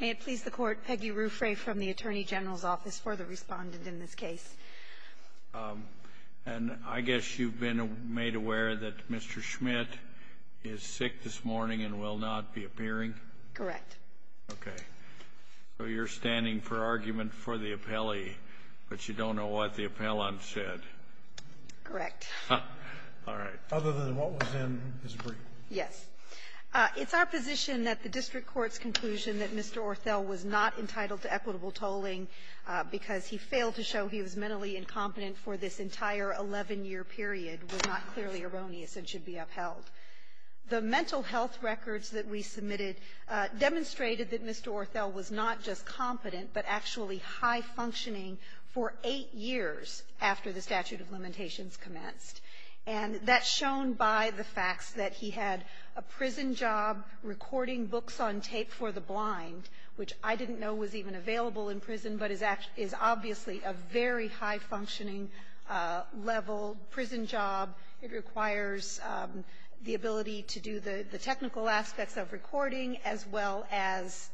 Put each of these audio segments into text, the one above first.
May it please the Court, Peggy Ruffray from the Attorney General's Office for the respondent in this case. And I guess you've been made aware that Mr. Schmidt is sick this morning and will not be appearing? Correct. Okay. So you're standing for argument for the appellee, but you don't know what the appellant said? Correct. All right. Other than what was in his brief? Yes. It's our position that the district court's conclusion that Mr. Orthel was not entitled to equitable tolling because he failed to show he was mentally incompetent for this entire 11-year period was not clearly erroneous and should be upheld. The mental health records that we submitted demonstrated that Mr. Orthel was not just competent, but actually high-functioning for eight years after the statute of limitations commenced. And that's shown by the facts that he had a prison job recording books on tape for the blind, which I didn't know was even available in prison, but is obviously a very high-functioning level prison job. It requires the ability to do the technical aspects of recording as well as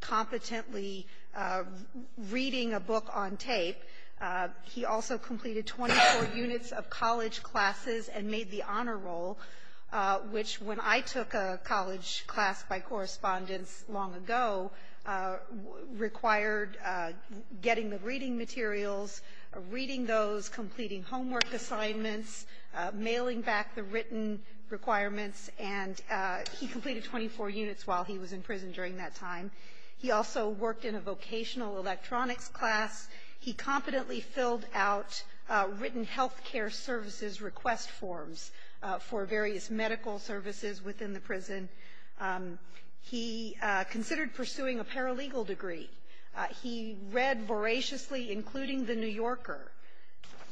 competently reading a book on tape. He also completed 24 units of college classes and made the honor roll, which when I took a college class by correspondence long ago required getting the reading materials, reading those, completing homework assignments, mailing back the written requirements, and he completed 24 units while he was in prison during that time. He also worked in a vocational electronics class. He competently filled out written health care services request forms for various medical services within the prison. He considered pursuing a paralegal degree. He read voraciously, including The New Yorker.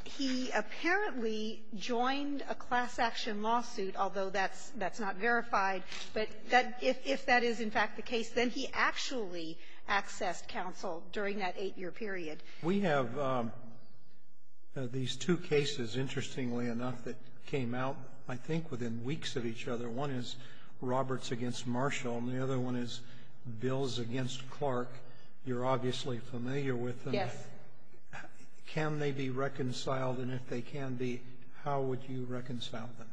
He apparently joined a class-action lawsuit, although that's not verified. But if that is, in fact, the case, then he actually accessed counsel during that eight-year period. We have these two cases, interestingly enough, that came out, I think, within weeks of each other. One is Roberts v. Marshall, and the other one is Bills v. Clark. You're obviously familiar with them. Yes. Can they be reconciled? And if they can be, how would you reconcile them?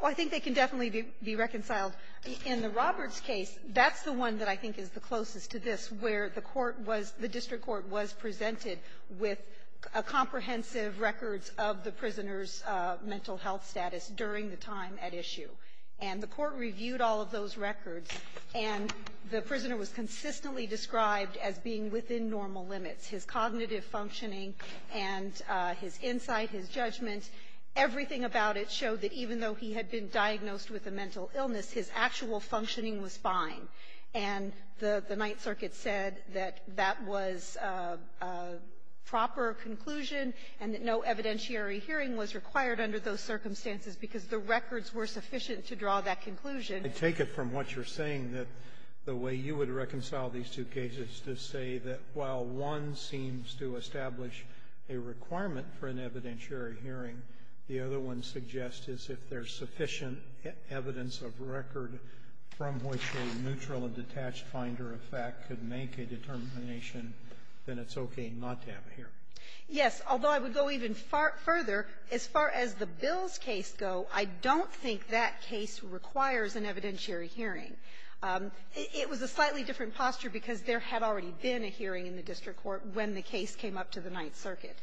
Well, I think they can definitely be reconciled. In the Roberts case, that's the one that I think is the closest to this, where the court was the district court was presented with comprehensive records of the prisoner's mental health status during the time at issue. And the court reviewed all of those records, and the prisoner was consistently described as being within normal limits. His cognitive functioning and his insight, his judgment, everything about it showed that even though he had been diagnosed with a mental illness, his actual functioning was fine. And the Ninth Circuit said that that was a proper conclusion, and that no evidentiary hearing was required under those circumstances, because the records were sufficient to draw that conclusion. I take it from what you're saying that the way you would reconcile these two cases to say that while one seems to establish a requirement for an evidentiary hearing, the other one suggests is if there's sufficient evidence of record from which a neutral and detached finder of fact could make a determination, then it's okay not to have a hearing. Yes. Although I would go even further, as far as the Bills case go, I don't think that case requires an evidentiary hearing. It was a slightly different posture because there had already been a hearing in the district court when the case came up to the Ninth Circuit.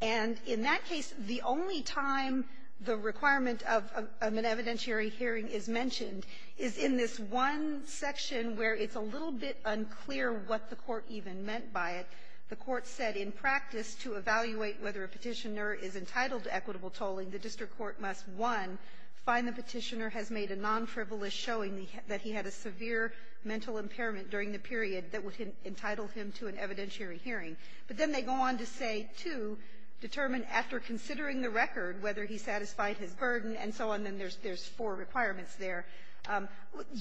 And in that case, the only time the requirement of an evidentiary hearing is mentioned is in this one section where it's a little bit unclear what the court even meant by it. The court said in practice to evaluate whether a Petitioner is entitled to equitable tolling, the district court must, one, find the Petitioner has made a non-frivolous showing that he had a severe mental impairment during the period that would entitle him to an evidentiary hearing. But then they go on to say, two, determine after considering the record whether he satisfied his burden and so on, then there's four requirements there.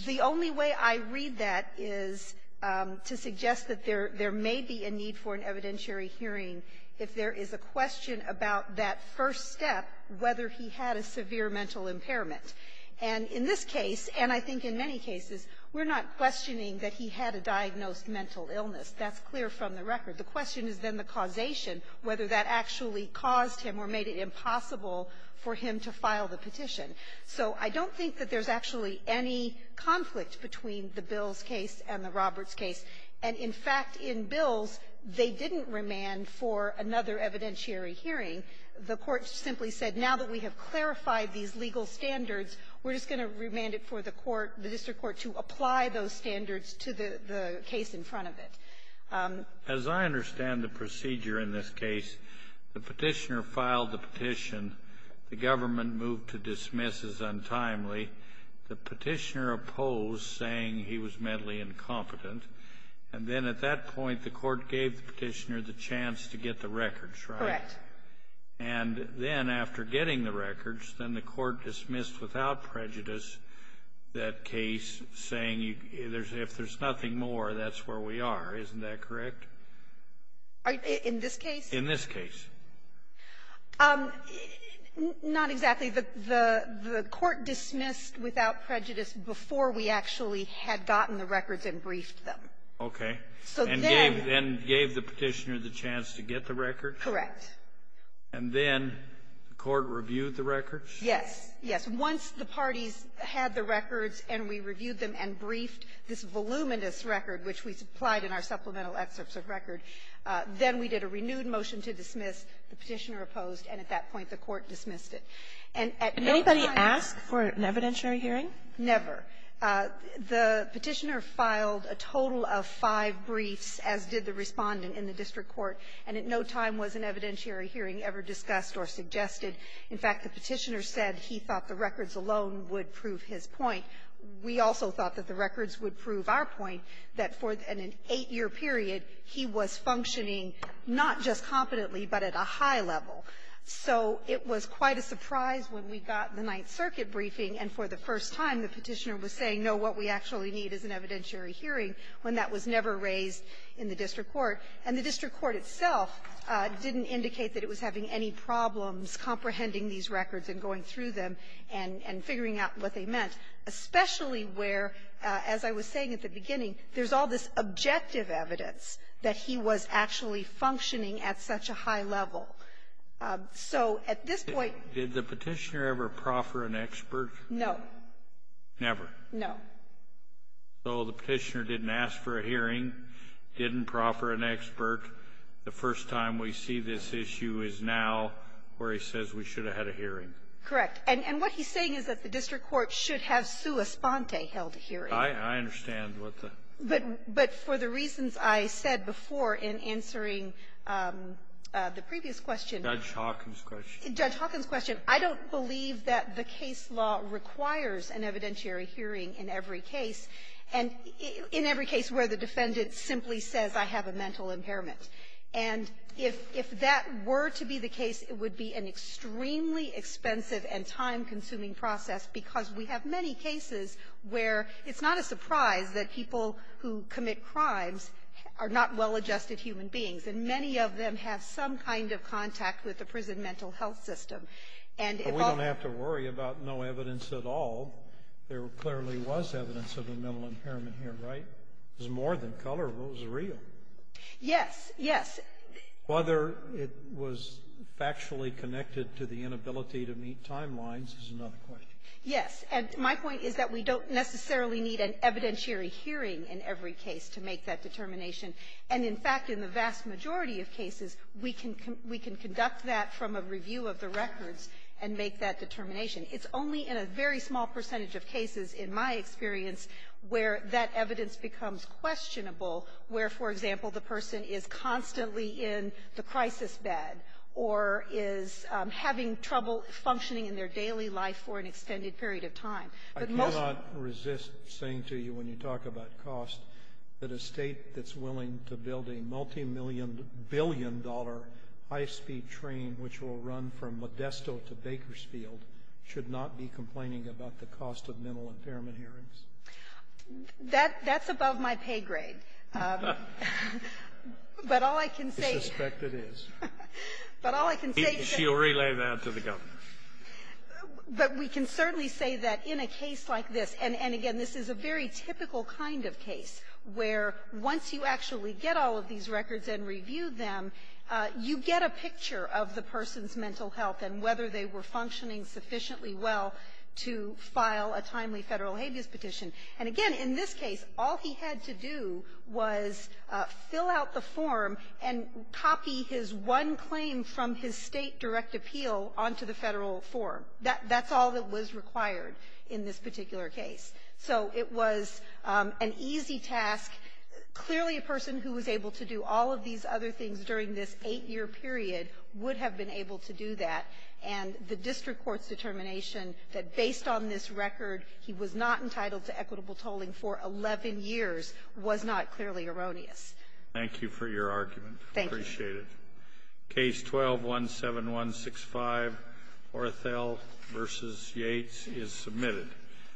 The only way I read that is to suggest that there may be a need for an evidentiary hearing if there is a question about that first step, whether he had a severe mental impairment. And in this case, and I think in many cases, we're not questioning that he had a diagnosed mental illness. That's clear from the record. The question is then the causation, whether that actually caused him or made it impossible for him to file the petition. So I don't think that there's actually any conflict between the Bills case and the Roberts case. And, in fact, in Bills, they didn't remand for another evidentiary hearing. The court simply said, now that we have clarified these legal standards, we're just going to remand it for the court, the district court, to apply those standards to the case in front of it. As I understand the procedure in this case, the petitioner filed the petition. The government moved to dismiss as untimely. The petitioner opposed, saying he was mentally incompetent. And then at that point, the court gave the petitioner the chance to get the records, right? Correct. And then after getting the records, then the court dismissed without prejudice that case, saying, if there's nothing more, that's where we are. Isn't that correct? In this case? In this case. Not exactly. The court dismissed without prejudice before we actually had gotten the records and briefed them. Okay. So then — And gave the petitioner the chance to get the records? Correct. And then the court reviewed the records? Yes. Yes. Once the parties had the records and we reviewed them and briefed this voluminous record, which we supplied in our supplemental excerpts of record, then we did a renewed motion to dismiss. The petitioner opposed, and at that point, the court dismissed it. And at no time — Did anybody ask for an evidentiary hearing? Never. The petitioner filed a total of five briefs, as did the Respondent in the district court, and at no time was an evidentiary hearing ever discussed or suggested. In fact, the petitioner said he thought the records alone would prove his point. We also thought that the records would prove our point, that for an eight-year period, he was functioning not just competently, but at a high level. So it was quite a surprise when we got the Ninth Circuit briefing, and for the first time, the petitioner was saying, no, what we actually need is an evidentiary hearing, when that was never raised in the district court. And the district court itself didn't indicate that it was having any problems comprehending these records and going through them and figuring out what they meant, especially where, as I was saying at the beginning, there's all this objective evidence that he was actually functioning at such a high level. So at this point — Did the petitioner ever proffer an expert? No. Never? No. So the petitioner didn't ask for a hearing, didn't proffer an expert. The first time we see this issue is now where he says we should have had a hearing. Correct. And what he's saying is that the district court should have sua sponte held a hearing. I understand what the — But for the reasons I said before in answering the previous question — Judge Hawkins' question. Judge Hawkins' question. I don't believe that the case law requires an evidentiary hearing in every case, and in every case where the defendant simply says I have a mental impairment. And if that were to be the case, it would be an extremely expensive and time-consuming process, because we have many cases where it's not a surprise that people who commit crimes are not well-adjusted human beings, and many of them have some kind of contact with the prison mental health system. And if all — But we don't have to worry about no evidence at all. There clearly was evidence of a mental impairment here, right? It was more than color. It was real. Yes. Yes. Whether it was factually connected to the inability to meet timelines is another question. Yes. And my point is that we don't necessarily need an evidentiary hearing in every case to make that determination. And, in fact, in the vast majority of cases, we can conduct that from a review of the records and make that determination. It's only in a very small percentage of cases, in my experience, where that evidence becomes questionable, where, for example, the person is constantly in the crisis bed or is having trouble functioning in their daily life for an extended period of time. I cannot resist saying to you, when you talk about cost, that a state that's willing to build a multimillion-billion-dollar high-speed train which will run from Modesto to Bakersfield should not be complaining about the cost of mental impairment hearings. That's above my pay grade. But all I can say — I suspect it is. But all I can say — She'll relay that to the governor. But we can certainly say that in a case like this — and, again, this is a very typical kind of case, where once you actually get all of these records and review them, you get a picture of the person's mental health and whether they were functioning sufficiently well to file a timely Federal habeas petition. And, again, in this case, all he had to do was fill out the form and copy his one claim from his State direct appeal onto the Federal form. That's all that was required in this particular case. So it was an easy task. Clearly, a person who was able to do all of these other things during this eight-year period would have been able to do that. And the district court's determination that, based on this record, he was not entitled to equitable tolling for 11 years was not clearly erroneous. Thank you for your argument. Thank you. I appreciate it. Case 12-17165, Orthell v. Yates, is submitted.